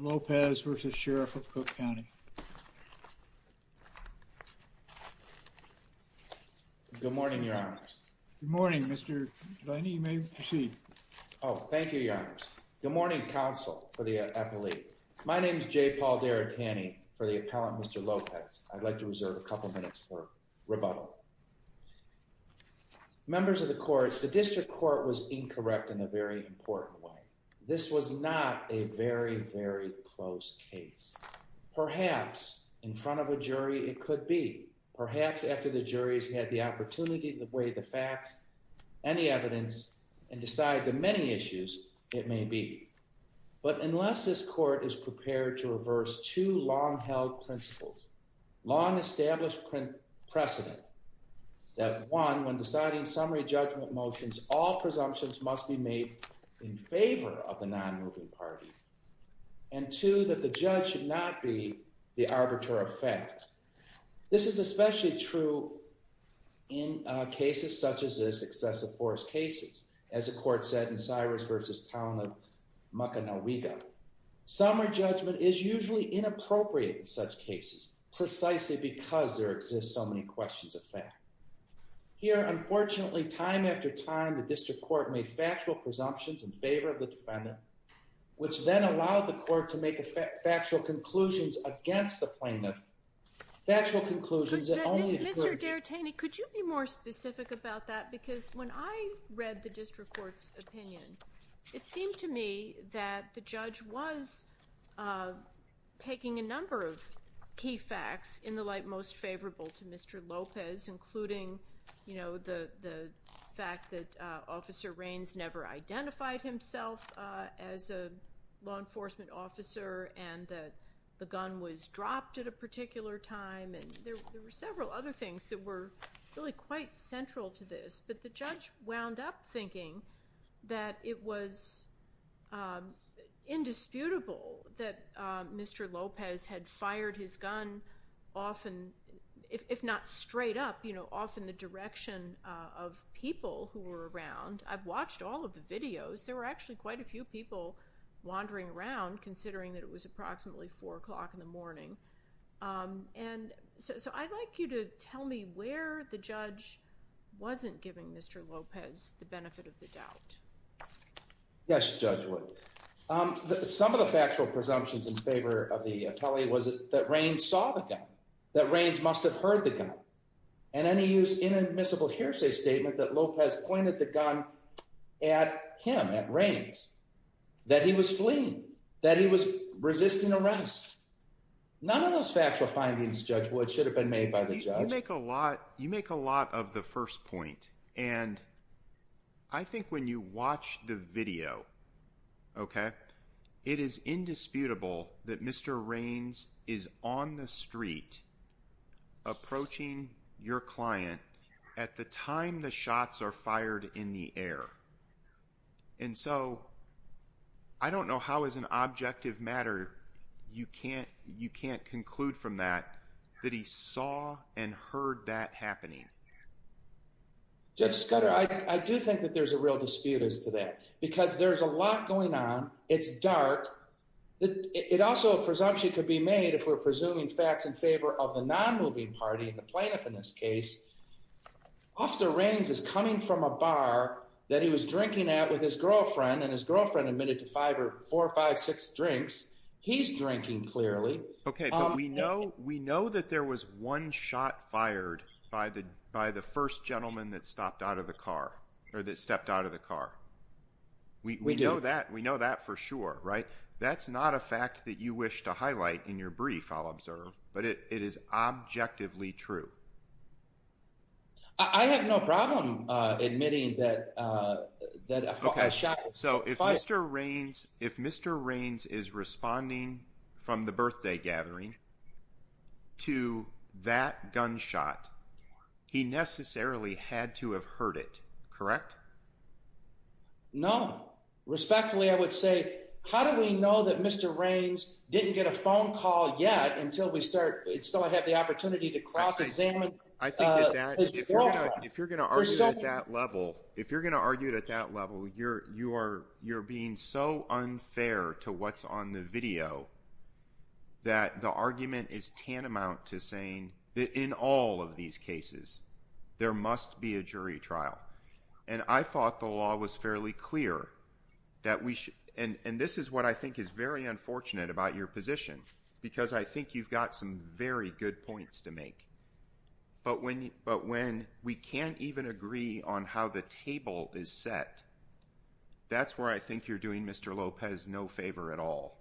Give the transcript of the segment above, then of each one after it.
Lopez v. Sheriff of Cook County. Good morning, Your Honors. Good morning, Mr. Delaney. You may proceed. Oh, thank you, Your Honors. Good morning, counsel for the appellee. My name is J. Paul Derritani for the appellant, Mr. Lopez. I'd like to reserve a couple minutes for rebuttal. Members of the court, the district court was incorrect in a very important way. This was not a very, very close case. Perhaps in front of a jury, it could be. Perhaps after the juries had the opportunity to weigh the facts, any evidence, and decide the many issues, it may be. But unless this court is prepared to reverse two long-held principles, long-established precedent, that one, when deciding summary judgment motions, all presumptions must be made in favor of the non-moving party. And two, that the judge should not be the arbiter of facts. This is especially true in cases such as this, excessive force cases, as the court said in Cyrus v. Town of Muckinaweeda. Summary judgment is usually inappropriate in such cases, precisely because there exists so many questions of fact. Here, unfortunately, time after time, the district court made factual presumptions in favor of the defendant, which then allowed the court to make factual conclusions against the plaintiff. Factual conclusions that only the clergy— Mr. D'Artagni, could you be more specific about that? Because when I read the district court's opinion, it seemed to me that the judge was taking a number of key facts in the light most favorable to Mr. Lopez, including the fact that Officer Raines never identified himself as a law enforcement officer, and that the gun was dropped at a particular time. And there were several other things that were really quite central to this. But the judge wound up thinking that it was if not straight up, often the direction of people who were around. I've watched all of the videos. There were actually quite a few people wandering around, considering that it was approximately 4 o'clock in the morning. So I'd like you to tell me where the judge wasn't giving Mr. Lopez the benefit of the doubt. Yes, Judge Wood. Some of the factual presumptions in favor of the attellee that Raines saw the gun, that Raines must have heard the gun. And then he used inadmissible hearsay statement that Lopez pointed the gun at him, at Raines, that he was fleeing, that he was resisting arrest. None of those factual findings, Judge Wood, should have been made by the judge. You make a lot of the first point. And I think when you watch the video, OK, it is indisputable that Mr. Raines is on the street approaching your client at the time the shots are fired in the air. And so I don't know how, as an objective matter, you can't conclude from that that he saw and heard that happening. Judge Scudder, I do think that there's a real dispute as to that because there's a lot going on. It's dark. It also a presumption could be made if we're presuming facts in favor of the non-moving party and the plaintiff in this case. Officer Raines is coming from a bar that he was drinking at with his girlfriend and his girlfriend admitted to five or four or five, six drinks. He's drinking clearly. OK, but we know that there was one shot fired by the first gentleman that stopped out of the car or that stepped out of the car. We know that. We know that for sure. Right. That's not a fact that you wish to highlight in your brief. I'll observe. But it is objectively true. I have no problem admitting that that I shot. So if Mr. Raines, if Mr. Raines is responding from the birthday gathering to that gunshot, he necessarily had to have heard it. Correct. No, respectfully, I would say, how do we know that Mr. Raines didn't get a phone call yet until we start? So I have the opportunity to cross examine. I think that if you're going to argue at that level, if you're going to argue it at that level, you're you're you're being so unfair to what's on the video that the argument is tantamount to saying that in all of these cases, there must be a jury trial. And I thought the law was fairly clear that we should. And this is what I think is very unfortunate about your position, because I think you've got some very good points to make. But when but when we can't even agree on how the table is set, that's where I think you're doing, Mr. Lopez, no favor at all.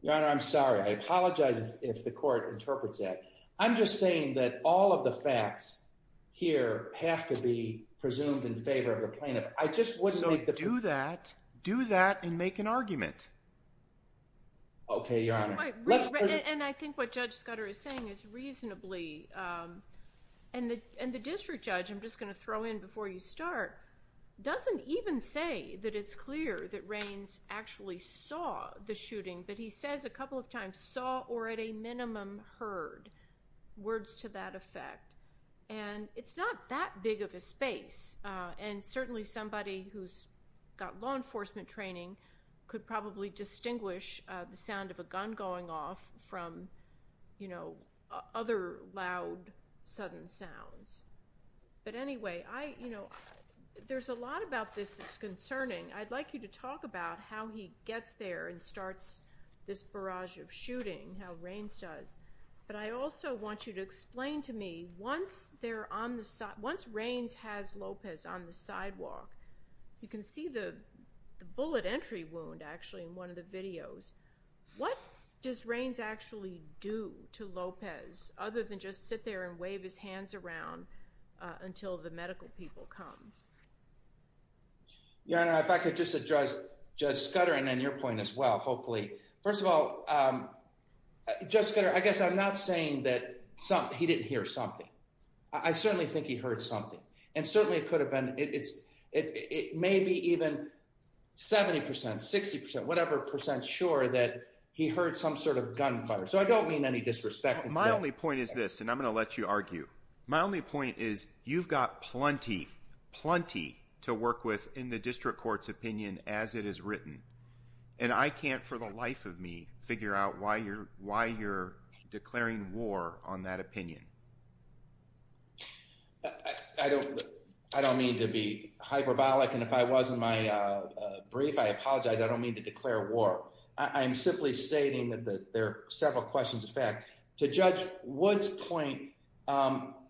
Your Honor, I'm sorry. I apologize if the court interprets that. I'm just saying that all of the facts here have to be presumed in favor of the plaintiff. I just wouldn't. So do that. Do that and make an argument. OK, Your Honor. And I think what Judge Scudder is saying is reasonably and the district judge, I'm just going to throw in before you start, doesn't even say that it's clear that Raines actually saw the shooting. But he says a couple of times, saw or at a minimum heard, words to that effect. And it's not that big of a space. And certainly somebody who's got law enforcement training could probably distinguish the sound of a gun going off from other loud, sudden sounds. I'd like you to talk about how he gets there and starts this barrage of shooting, how Raines does. But I also want you to explain to me, once Raines has Lopez on the sidewalk, you can see the bullet entry wound, actually, in one of the videos. What does Raines actually do to Lopez other than just sit there and wave his hands around until the medical people come? Your Honor, if I could just address Judge Scudder and then your point as well, hopefully. First of all, Judge Scudder, I guess I'm not saying that he didn't hear something. I certainly think he heard something. And certainly it could have been, it may be even 70 percent, 60 percent, whatever percent sure that he heard some sort of gunfire. So I don't mean any disrespect. My only point is this, and I'm going to let you argue. My only point is you've got plenty, plenty to work with in the district court's opinion as it is written. And I can't, for the life of me, figure out why you're declaring war on that opinion. I don't mean to be hyperbolic. And if I was in my brief, I apologize. I don't mean to declare war. I'm simply stating that there are several questions. To Judge Wood's point,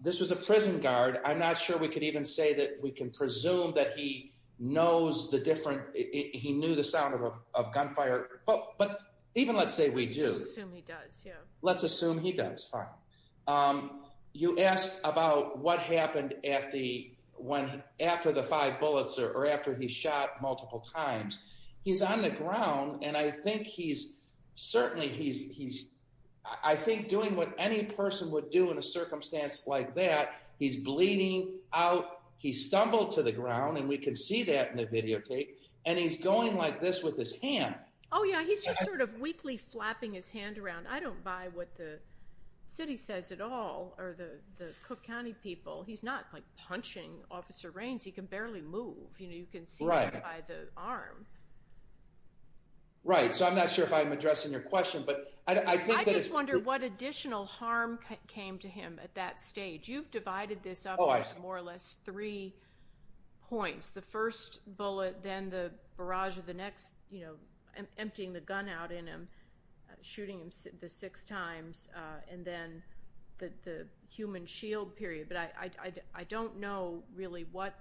this was a prison guard. I'm not sure we could even say that we can presume that he knows the different, he knew the sound of gunfire. But even let's say we do. Let's just assume he does, yeah. Let's assume he does, fine. You asked about what happened after the five bullets or after he shot multiple times. He's on the ground. And I think he's certainly, I think doing what any person would do in a circumstance like that, he's bleeding out. He stumbled to the ground. And we can see that in the videotape. And he's going like this with his hand. Oh, yeah. He's just sort of weakly flapping his hand around. I don't buy what the city says at all or the Cook County people. He's not like punching Officer Raines. He can barely move. You can see that by the arm. Right. So I'm not sure if I'm addressing your question. But I think that it's- I just wonder what additional harm came to him at that stage. You've divided this up into more or less three points. The first bullet, then the barrage of the next, emptying the gun out in him, shooting him the six times, and then the human shield period. But I don't know really what-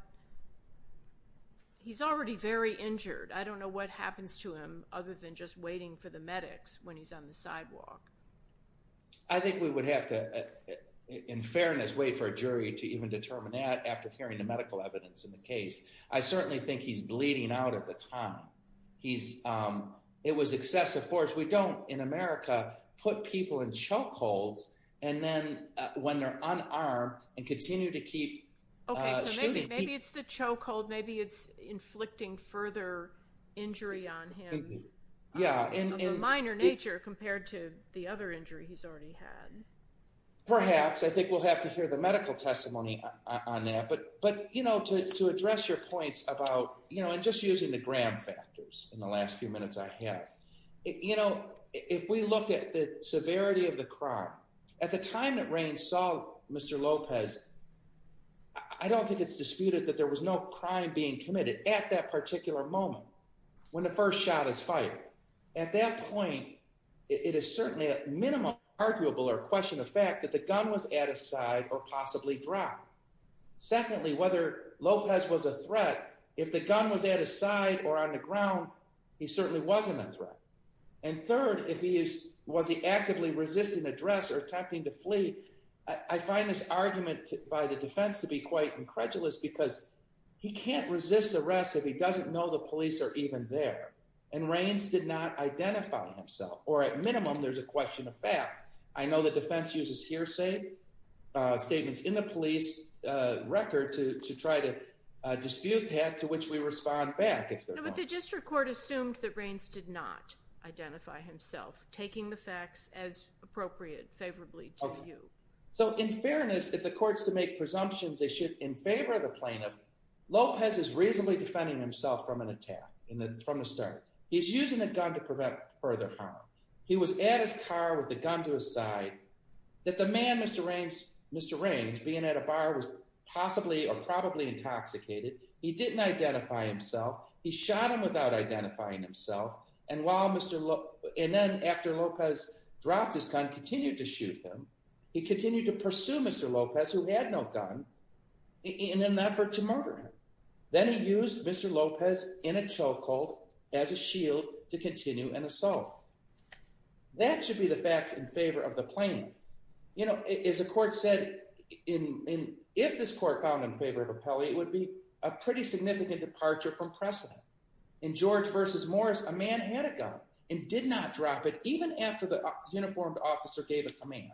he's already very injured. I don't know what happens to him other than just waiting for the medics when he's on the sidewalk. I think we would have to, in fairness, wait for a jury to even determine that after hearing the medical evidence in the case. I certainly think he's bleeding out at the time. It was excessive force. We don't, in America, put people in chokeholds. Then when they're unarmed and continue to keep shooting people- Maybe it's the chokehold. Maybe it's inflicting further injury on him of a minor nature compared to the other injury he's already had. Perhaps. I think we'll have to hear the medical testimony on that. But to address your points about- and just using the gram factors in the last few minutes I have. You know, if we look at the severity of the crime, at the time that Raines saw Mr. Lopez, I don't think it's disputed that there was no crime being committed at that particular moment when the first shot is fired. At that point, it is certainly at minimum arguable or question the fact that the gun was at his side or possibly dropped. Secondly, whether Lopez was a threat, if the gun was at his side or on the ground, he certainly wasn't a threat. And third, was he actively resisting address or attempting to flee? I find this argument by the defense to be quite incredulous because he can't resist arrest if he doesn't know the police are even there. And Raines did not identify himself. Or at minimum, there's a question of fact. I know the defense uses hearsay statements in the police record to try to dispute that, to which we respond back. But the district court assumed that Raines did not identify himself, taking the facts as appropriate, favorably to you. So in fairness, if the court's to make presumptions, they should in favor of the plaintiff. Lopez is reasonably defending himself from an attack from the start. He's using a gun to prevent further harm. He was at his car with the gun to his side. That the man, Mr. Raines, being at a bar was possibly or probably intoxicated. He didn't identify himself. He shot him without identifying himself. And then after Lopez dropped his gun, continued to shoot him. He continued to pursue Mr. Lopez, who had no gun, in an effort to murder him. Then he used Mr. Lopez in a chokehold as a shield to continue an assault. That should be the facts in favor of the plaintiff. You know, as the court said, if this court found in favor of Appelli, it would be a pretty In George versus Morris, a man had a gun and did not drop it even after the uniformed officer gave a command.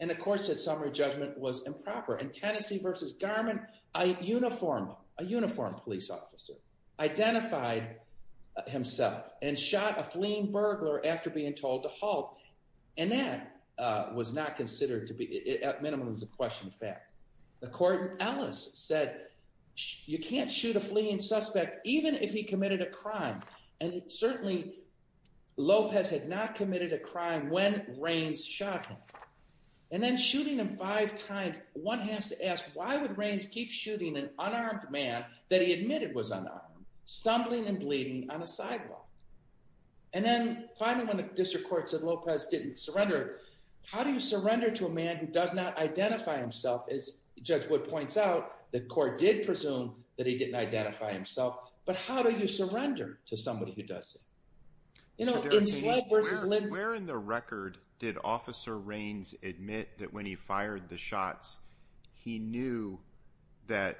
And the court said summary judgment was improper. In Tennessee versus Garmin, a uniformed police officer identified himself and shot a fleeing burglar after being told to halt. And that was not considered to be, at minimum, was a question of fact. The court in Ellis said, you can't shoot a fleeing suspect, even if he committed a crime. And certainly, Lopez had not committed a crime when Raines shot him. And then shooting him five times, one has to ask, why would Raines keep shooting an unarmed man that he admitted was unarmed, stumbling and bleeding on a sidewalk? And then finally, when the district court said Lopez didn't surrender, how do you surrender to a man who does not identify himself? As Judge Wood points out, the court did presume that he didn't identify himself. But how do you surrender to somebody who does? You know, where in the record did Officer Raines admit that when he fired the shots, he knew that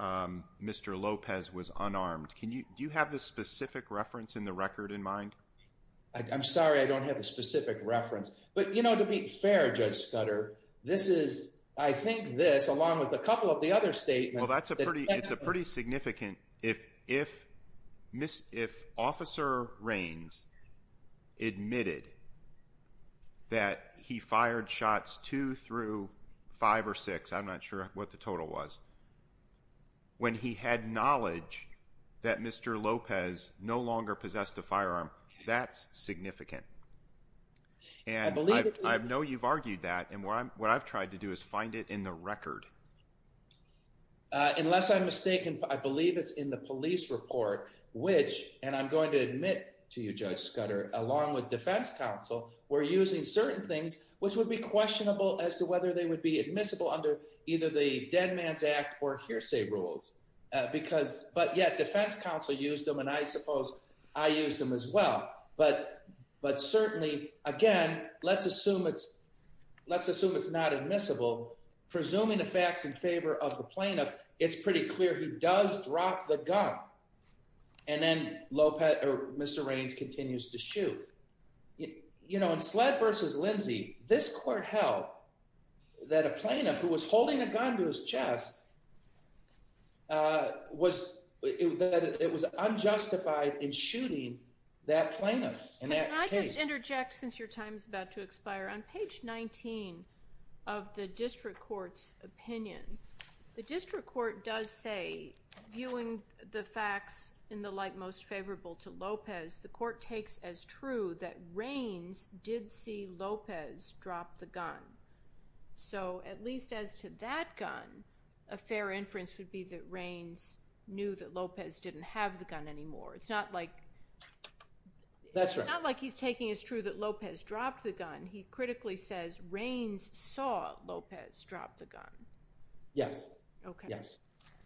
Mr. Lopez was unarmed? Can you do you have the specific reference in the record in mind? I'm sorry, I don't have a specific reference. But, you know, to be fair, Judge Scudder, this is, I think, this, along with a couple of the other statements. Well, that's a pretty, it's a pretty significant. If Officer Raines admitted that he fired shots two through five or six, I'm not sure what the total was. When he had knowledge that Mr. Lopez no longer possessed a firearm, that's significant. And I know you've argued that and what I've tried to do is find it in the record. Unless I'm mistaken, I believe it's in the police report, which, and I'm going to admit to you, Judge Scudder, along with defense counsel, were using certain things which would be questionable as to whether they would be admissible under either the Dead Man's Act or hearsay rules. Because but yet defense counsel used them and I suppose I used them as well. But certainly, again, let's assume it's not admissible. Presuming the facts in favor of the plaintiff, it's pretty clear he does drop the gun and then Lopez or Mr. Raines continues to shoot. You know, in Sled versus Lindsey, this court held that a plaintiff who was holding a gun in his chest was, that it was unjustified in shooting that plaintiff in that case. Can I just interject since your time is about to expire? On page 19 of the district court's opinion, the district court does say, viewing the facts in the light most favorable to Lopez, the court takes as true that Raines did see Lopez drop the gun. So at least as to that gun, a fair inference would be that Raines knew that Lopez didn't have the gun anymore. It's not like, it's not like he's taking as true that Lopez dropped the gun. He critically says Raines saw Lopez drop the gun. Yes, yes.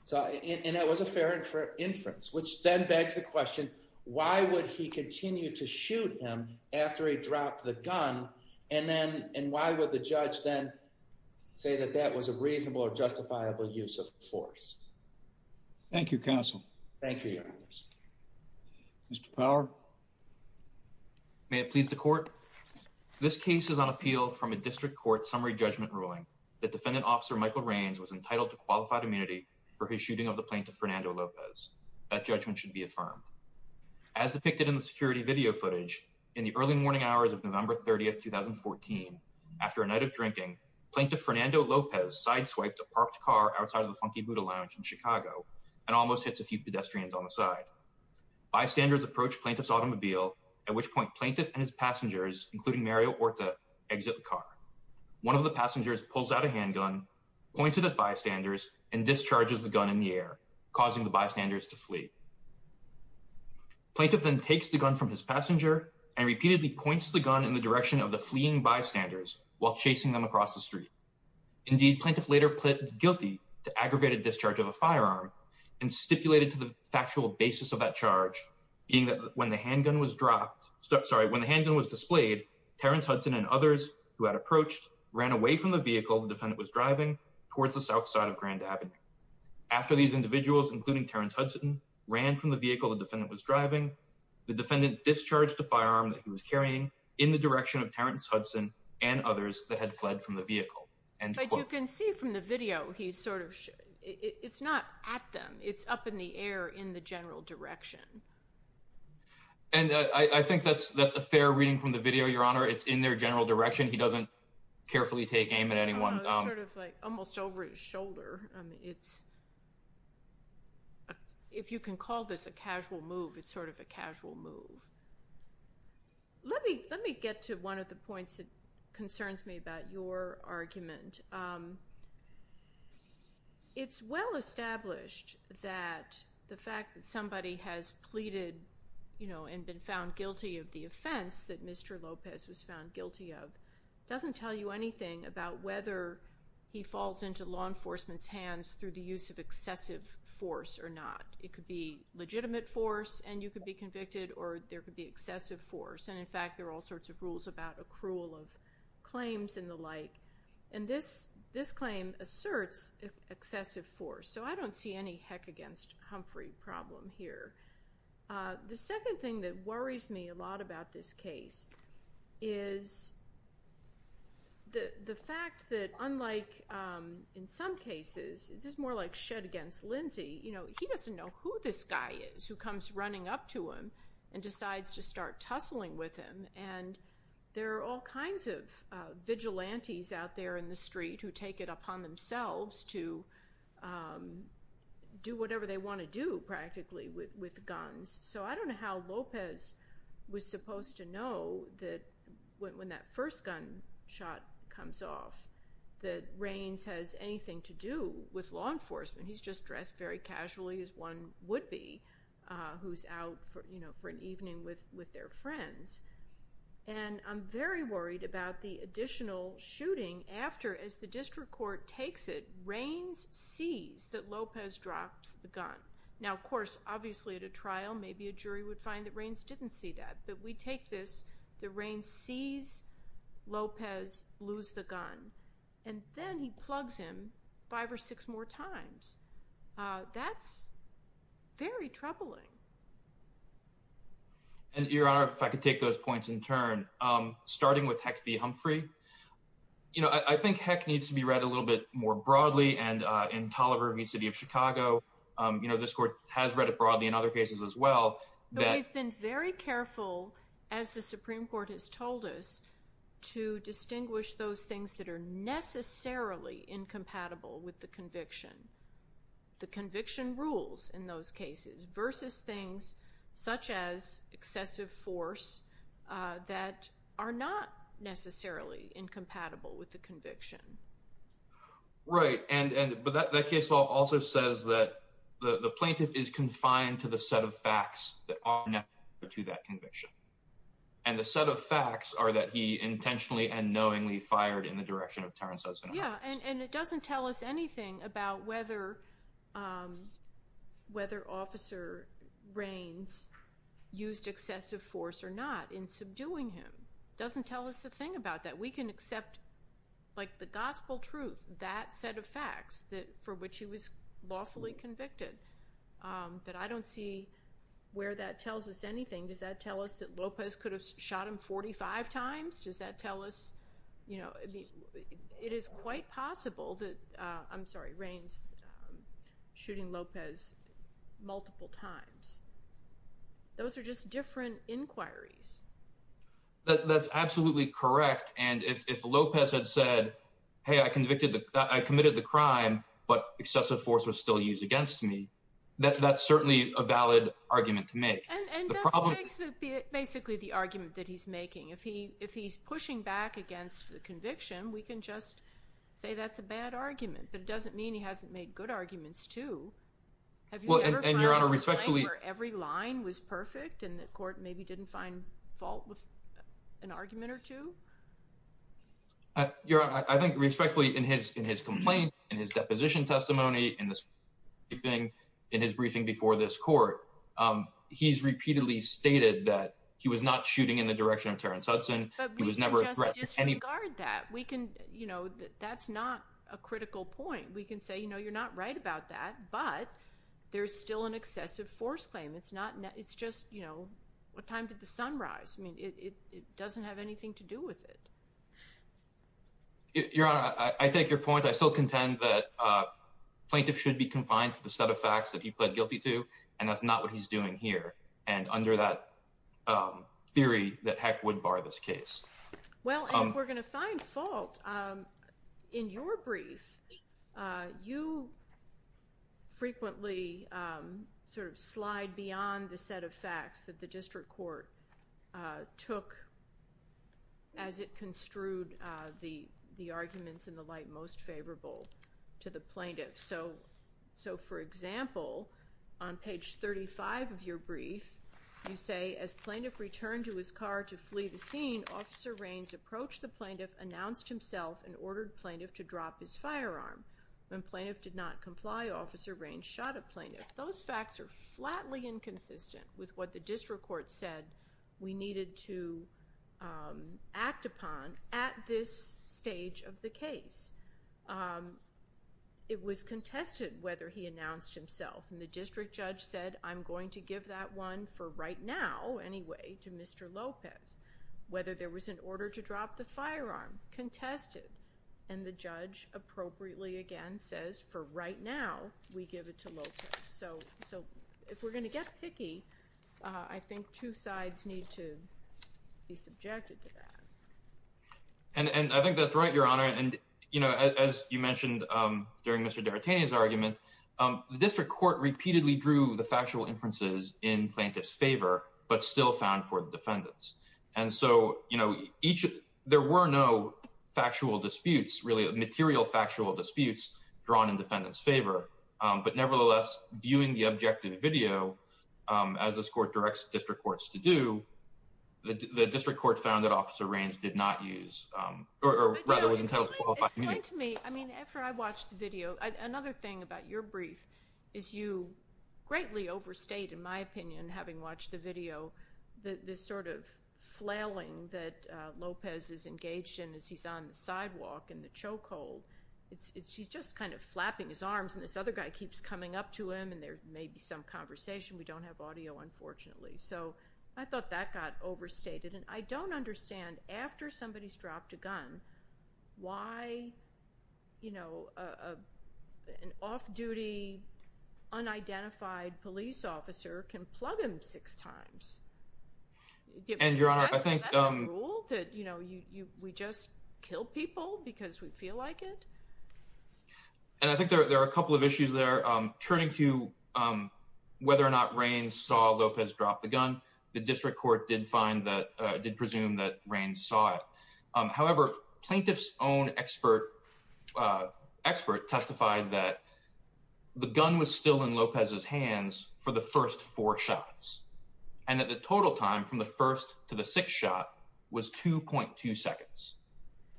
So and that was a fair inference, which then begs the question, why would he continue to say that that was a reasonable or justifiable use of force? Thank you, counsel. Thank you. Mr. Power. May it please the court. This case is on appeal from a district court summary judgment ruling that defendant officer Michael Raines was entitled to qualified immunity for his shooting of the plaintiff, Fernando Lopez. That judgment should be affirmed. As depicted in the security video footage in the early morning hours of November 30th, 2014. After a night of drinking, Plaintiff Fernando Lopez sideswiped a parked car outside of the Funky Buddha Lounge in Chicago and almost hits a few pedestrians on the side. Bystanders approach plaintiff's automobile, at which point plaintiff and his passengers, including Mario Orta, exit the car. One of the passengers pulls out a handgun, points it at bystanders, and discharges the gun in the air, causing the bystanders to flee. Plaintiff then takes the gun from his passenger and repeatedly points the gun in the direction of the fleeing bystanders while chasing them across the street. Indeed, Plaintiff later pleaded guilty to aggravated discharge of a firearm and stipulated to the factual basis of that charge, being that when the handgun was dropped, sorry, when the handgun was displayed, Terrence Hudson and others who had approached ran away from the vehicle the defendant was driving towards the south side of Grand Avenue. After these individuals, including Terrence Hudson, ran from the vehicle the defendant was driving, the defendant discharged the firearm that he was carrying in the direction of Terrence Hudson and others that had fled from the vehicle. But you can see from the video, it's not at them. It's up in the air in the general direction. And I think that's a fair reading from the video, Your Honor. It's in their general direction. He doesn't carefully take aim at anyone. It's sort of like almost over his shoulder. If you can call this a casual move, it's sort of a casual move. Let me get to one of the points that concerns me about your argument. It's well established that the fact that somebody has pleaded and been found guilty of the offense that Mr. Lopez was found guilty of doesn't tell you anything about whether he falls into law enforcement's hands through the use of excessive force or not. It could be legitimate force and you could be convicted or there could be excessive force. And in fact, there are all sorts of rules about accrual of claims and the like. And this claim asserts excessive force. So I don't see any heck against Humphrey problem here. The second thing that worries me a lot about this case is the fact that unlike in some who this guy is who comes running up to him and decides to start tussling with him, and there are all kinds of vigilantes out there in the street who take it upon themselves to do whatever they want to do practically with guns. So I don't know how Lopez was supposed to know that when that first gun shot comes off, that Raines has anything to do with law enforcement. He's just dressed very casually as one would be who's out for an evening with their friends. And I'm very worried about the additional shooting after, as the district court takes it, Raines sees that Lopez drops the gun. Now, of course, obviously at a trial, maybe a jury would find that Raines didn't see that. But we take this, that Raines sees Lopez lose the gun. And then he plugs him five or six more times. That's very troubling. And Your Honor, if I could take those points in turn, starting with Heck v. Humphrey, I think Heck needs to be read a little bit more broadly. And in Tolliver v. City of Chicago, this court has read it broadly in other cases as well. We've been very careful, as the Supreme Court has told us, to distinguish those things that are necessarily incompatible with the conviction. The conviction rules in those cases versus things such as excessive force that are not necessarily incompatible with the conviction. Right. And that case law also says that the plaintiff is confined to the set of facts that are necessary to that conviction. And the set of facts are that he intentionally and knowingly fired in the direction of Terence Hudson. Yeah. And it doesn't tell us anything about whether Officer Raines used excessive force or not in subduing him. Doesn't tell us a thing about that. We can accept, like, the gospel truth, that set of facts for which he was lawfully convicted. But I don't see where that tells us anything. Does that tell us that Lopez could have shot him 45 times? Does that tell us, you know, it is quite possible that, I'm sorry, Raines shooting Lopez multiple times. Those are just different inquiries. That's absolutely correct. And if Lopez had said, hey, I committed the crime, but excessive force was still used against me, that's certainly a valid argument to make. And that's basically the argument that he's making. If he's pushing back against the conviction, we can just say that's a bad argument. But it doesn't mean he hasn't made good arguments, too. Have you ever found a time where every line was perfect and the court maybe didn't find fault with an argument or two? Your Honor, I think respectfully in his complaint, in his deposition testimony, in his briefing before this court, he's repeatedly stated that he was not shooting in the direction of Terrence Hudson. But we can just disregard that. That's not a critical point. We can say, you know, you're not right about that, but there's still an excessive force claim. It's just, you know, what time did the sun rise? I mean, it doesn't have anything to do with it. Your Honor, I take your point. I still contend that a plaintiff should be confined to the set of facts that he pled guilty to, and that's not what he's doing here. And under that theory, that heck would bar this case. Well, if we're going to find fault, in your brief, you frequently sort of slide beyond the set of facts that the district court took as it construed the arguments and the like most favorable to the plaintiff. So, for example, on page 35 of your brief, you say, as plaintiff returned to his car to flee the scene, Officer Raines approached the plaintiff, announced himself, and ordered plaintiff to drop his firearm. When plaintiff did not comply, Officer Raines shot a plaintiff. Those facts are flatly inconsistent with what the district court said we needed to act upon at this stage of the case. It was contested whether he announced himself. And the district judge said, I'm going to give that one, for right now, anyway, to Mr. Lopez. Whether there was an order to drop the firearm, contested. And the judge appropriately, again, says, for right now, we give it to Lopez. So, if we're going to get picky, I think two sides need to be subjected to that. And I think that's right, Your Honor. And, you know, as you mentioned during Mr. D'Artagnan's argument, the district court repeatedly drew the factual inferences in plaintiff's favor, but still found for the defendants. And so, you know, there were no factual disputes, really material factual disputes, drawn in defendant's favor. But nevertheless, viewing the objective video, as this court directs district courts to do, the district court found that Officer Raines did not use, or rather was entitled to qualify. Explain to me, I mean, after I watched the video, another thing about your brief is you greatly overstayed, in my opinion, having watched the video, this sort of flailing that Lopez is engaged in as he's on the sidewalk in the chokehold. He's just kind of flapping his arms, and this other guy keeps coming up to him, and there may be some conversation. We don't have audio, unfortunately. So, I thought that got overstated. And I don't understand, after somebody's dropped a gun, why, you know, an off-duty, unidentified police officer can plug him six times. And, Your Honor, I think— Is that a rule? That, you know, we just kill people because we feel like it? And I think there are a couple of issues there. Turning to whether or not Raines saw Lopez drop the gun, the district court did find that, did presume that Raines saw it. However, plaintiff's own expert testified that the gun was still in Lopez's hands for the first four shots, and that the total time from the first to the sixth shot was 2.2 seconds.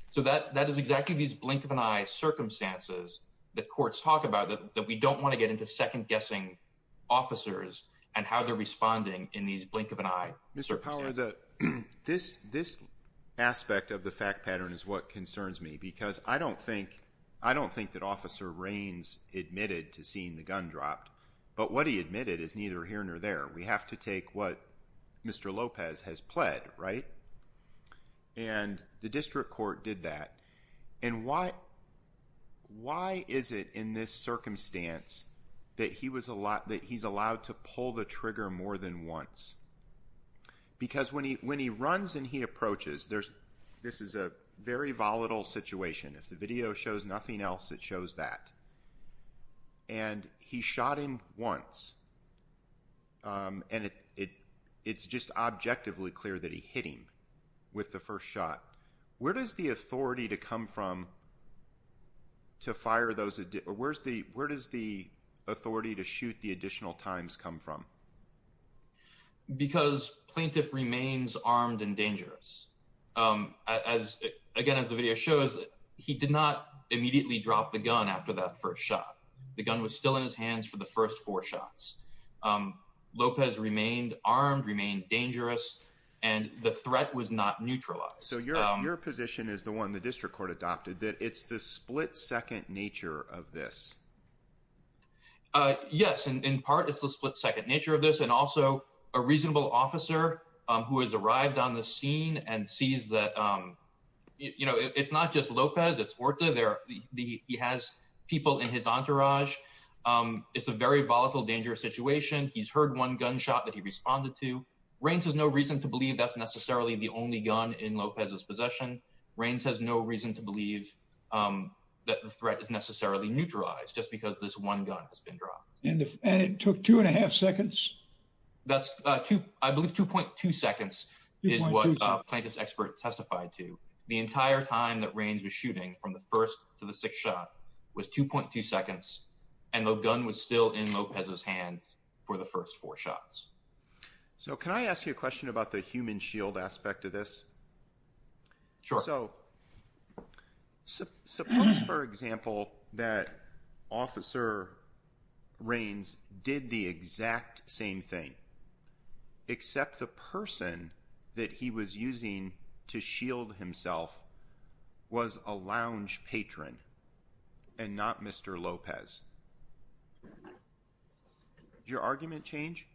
So, that is exactly these blink-of-an-eye circumstances the courts talk about, that we don't want to get into second-guessing officers and how they're responding in these blink-of-an-eye circumstances. Mr. Powell, this aspect of the fact pattern is what concerns me, because I don't think that Officer Raines admitted to seeing the gun dropped. But what he admitted is neither here nor there. We have to take what Mr. Lopez has pled, right? And the district court did that. And why is it in this circumstance that he's allowed to pull the trigger more than once? Because when he runs and he approaches, this is a very volatile situation. If the video shows nothing else, it shows that. And he shot him once. And it's just objectively clear that he hit him with the first shot. Where does the authority to come from to fire those? Where does the authority to shoot the additional times come from? Because plaintiff remains armed and dangerous. Again, as the video shows, he did not immediately drop the gun after that first shot. The gun was still in his hands for the first four shots. Lopez remained armed, remained dangerous, and the threat was not neutralized. So your position is the one the district court adopted, that it's the split second nature of this. Yes, in part, it's the split second nature of this. And also a reasonable officer who has arrived on the scene and sees that, you know, it's not just Lopez, it's Horta. He has people in his entourage. It's a very volatile, dangerous situation. He's heard one gunshot that he responded to. Reins has no reason to believe that's necessarily the only gun in Lopez's possession. Reins has no reason to believe that the threat is necessarily neutralized just because this one gun has been dropped. And it took two and a half seconds. That's two, I believe, 2.2 seconds is what plaintiff's expert testified to. The entire time that Reins was shooting from the first to the sixth shot was 2.2 seconds. And the gun was still in Lopez's hands for the first four shots. So can I ask you a question about the human shield aspect of this? Sure. So suppose, for example, that Officer Reins did the exact same thing, except the person that he was using to shield himself was a lounge patron and not Mr. Lopez. Would your argument change?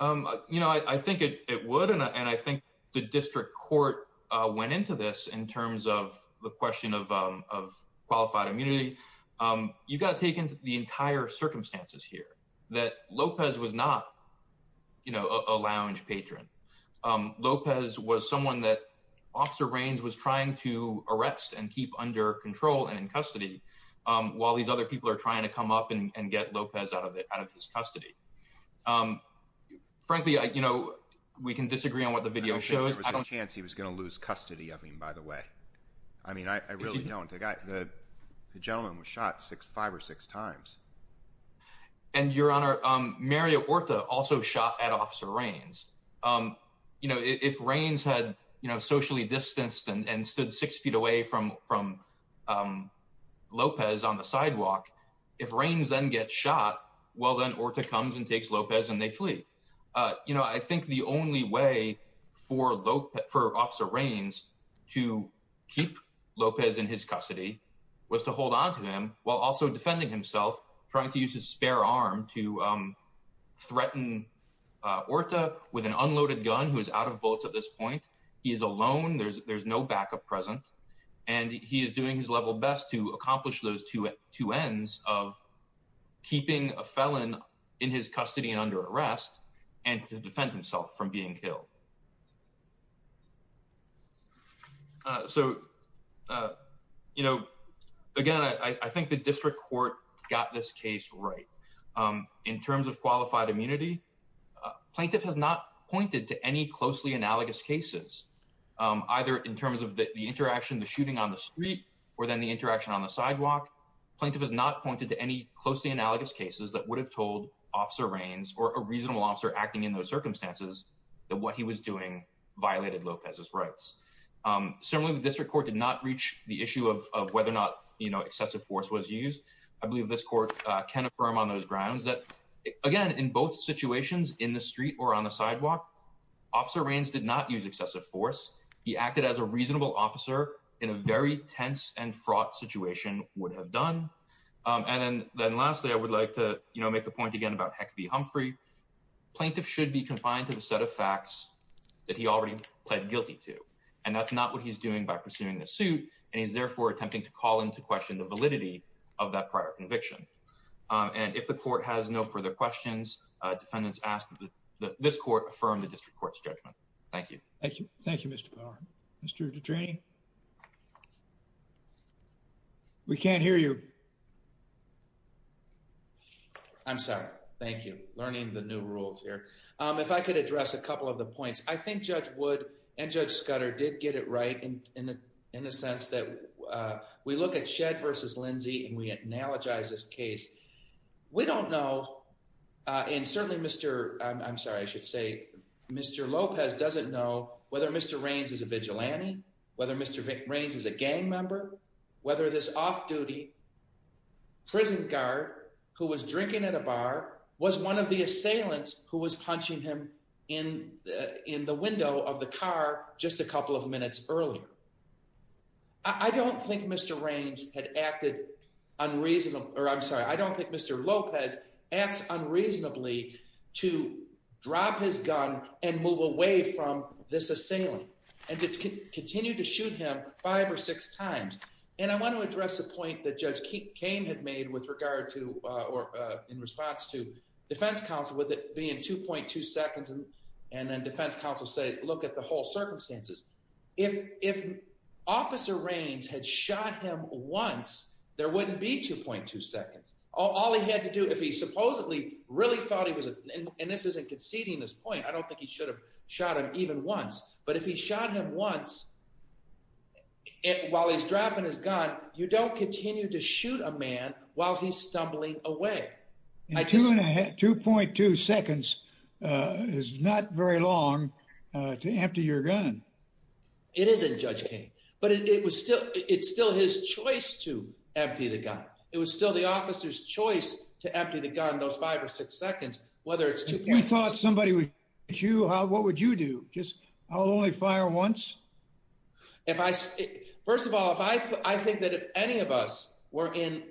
You know, I think it would, and I think the district court went into this in terms of the question of qualified immunity. You've got to take into the entire circumstances here that Lopez was not, you know, a lounge patron. Lopez was someone that Officer Reins was trying to arrest and keep under control and in custody while these other people are trying to come up and get Lopez out of his custody. Frankly, you know, we can disagree on what the video shows. I don't think there was a chance he was going to lose custody of him, by the way. I mean, I really don't. The gentleman was shot five or six times. And, Your Honor, Mario Orta also shot at Officer Reins. You know, if Reins had, you know, socially distanced and stood six feet away from Lopez on the sidewalk, if Reins then gets shot, well, then Orta comes and takes Lopez and they flee. You know, I think the only way for Officer Reins to keep Lopez in his custody was to hold on to him while also defending himself, trying to use his spare arm to threaten Orta, with an unloaded gun, who is out of bullets at this point. He is alone. There's no backup present. And he is doing his level best to accomplish those two ends of keeping a felon in his custody and under arrest and to defend himself from being killed. So, you know, again, I think the district court got this case right. In terms of qualified immunity, plaintiff has not pointed to any closely analogous cases, either in terms of the interaction, the shooting on the street or then the interaction on the sidewalk. Plaintiff has not pointed to any closely analogous cases that would have told Officer Reins or a reasonable officer acting in those circumstances that what he was doing violated Lopez's rights. Similarly, the district court did not reach the issue of whether or not, you know, excessive force was used. I believe this court can affirm on those grounds that, again, in both situations, in the street or on the sidewalk, Officer Reins did not use excessive force. He acted as a reasonable officer in a very tense and fraught situation would have done. And then lastly, I would like to, you know, make the point again about Heck v. Humphrey. Plaintiff should be confined to the set of facts that he already pled guilty to. And that's not what he's doing by pursuing the suit. And he's, therefore, attempting to call into question the validity of that prior conviction. And if the court has no further questions, defendants ask that this court affirm the district court's judgment. Thank you. Thank you. Thank you, Mr. Power. Mr. De Draney? We can't hear you. I'm sorry. Thank you. Learning the new rules here. If I could address a couple of the points. I think Judge Wood and Judge Scudder did get it right in a sense that we look at Shedd v. Lindsey and we analogize this case. We don't know, and certainly Mr. I'm sorry, I should say Mr. Lopez doesn't know whether Mr. Reins is a vigilante, whether Mr. Reins is a gang member, whether this off-duty prison guard who was drinking at a bar was one of the assailants who was punching him in the window of the car just a couple of minutes earlier. I don't think Mr. Reins had acted unreasonable, or I'm sorry, I don't think Mr. Lopez acts unreasonably to drop his gun and move away from this assailant and to continue to shoot him five or six times. And I want to address a point that Judge Kane had made with regard to, or in response to defense counsel with it being 2.2 seconds and then defense counsel said, look at the whole circumstances. If Officer Reins had shot him once, there wouldn't be 2.2 seconds. All he had to do if he supposedly really thought he was, and this isn't conceding this point, I don't think he should have shot him even once, but if he shot him once while he's dropping his gun, you don't continue to shoot a man while he's stumbling away. And 2.2 seconds is not very long to empty your gun. It isn't, Judge Kane. But it was still, it's still his choice to empty the gun. It was still the officer's choice to empty the gun, those five or six seconds, whether it's 2.2 seconds. If he thought somebody would shoot you, what would you do? Just, I'll only fire once? If I, first of all, if I, I think that if any of us were in,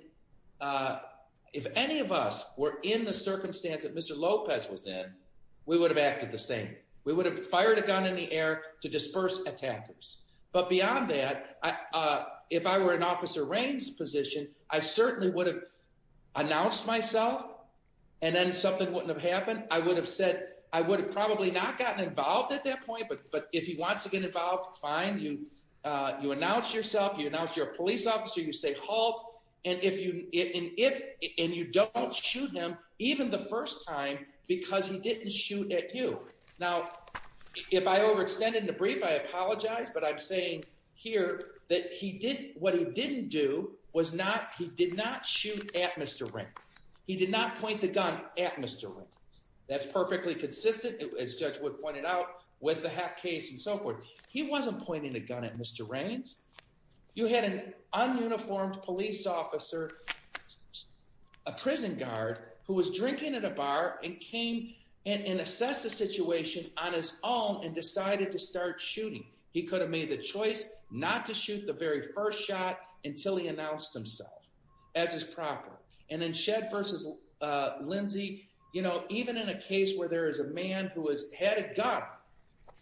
if any of us were in the circumstance that Mr. Lopez was in, we would have acted the same. We would have fired a gun in the air to disperse attackers. But beyond that, if I were in Officer Reins' position, I certainly would have announced myself and then something wouldn't have happened. I would have said, I would have probably not gotten involved at that point. But if he wants to get involved, fine. You, you announce yourself, you announce you're a police officer, you say, halt. And if you, and if, and you don't shoot him even the first time because he didn't shoot at you. Now, if I overextended the brief, I apologize, but I'm saying here that he did, what he didn't do was not, he did not shoot at Mr. Reins. He did not point the gun at Mr. Reins. That's perfectly consistent, as Judge Wood pointed out, with the hack case and so forth. He wasn't pointing a gun at Mr. Reins. You had an un-uniformed police officer, a prison guard who was drinking at a bar and came and assessed the situation on his own and decided to start shooting. He could have made the choice not to shoot the very first shot until he announced himself as his proper. And in Shedd versus Lindsey, you know, even in a case where there is a man who was, had a gun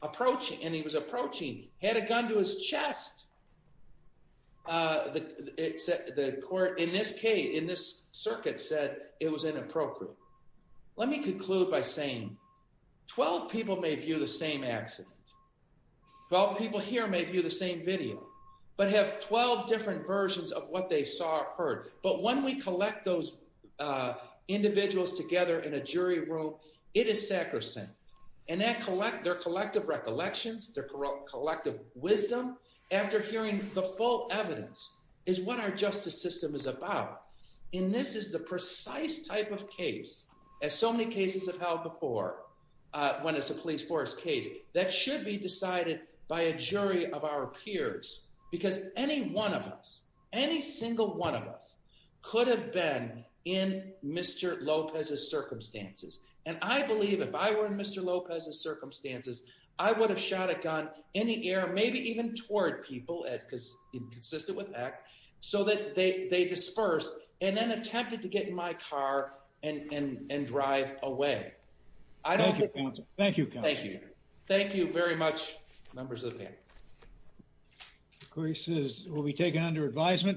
approaching, and he was approaching, had a gun to his chest, the court, in this case, in this circuit said it was inappropriate. Let me conclude by saying 12 people may view the same accident. 12 people here may view the same video, but have 12 different versions of what they saw or heard. But when we collect those individuals together in a jury room, it is sacrosanct. And their collective recollections, their collective wisdom, after hearing the full evidence, is what our justice system is about. And this is the precise type of case, as so many cases have held before, when it's a police force case, that should be decided by a jury of our peers. Because any one of us, any single one of us, could have been in Mr. Lopez's circumstances. And I believe if I were in Mr. Lopez's circumstances, I would have shot a gun in the air, maybe even toward people, because it's consistent with ACT, so that they dispersed and then attempted to get in my car and drive away. Thank you, counsel. Thank you, counsel. Thank you. Thank you very much, members of the panel. The case will be taken under advisement.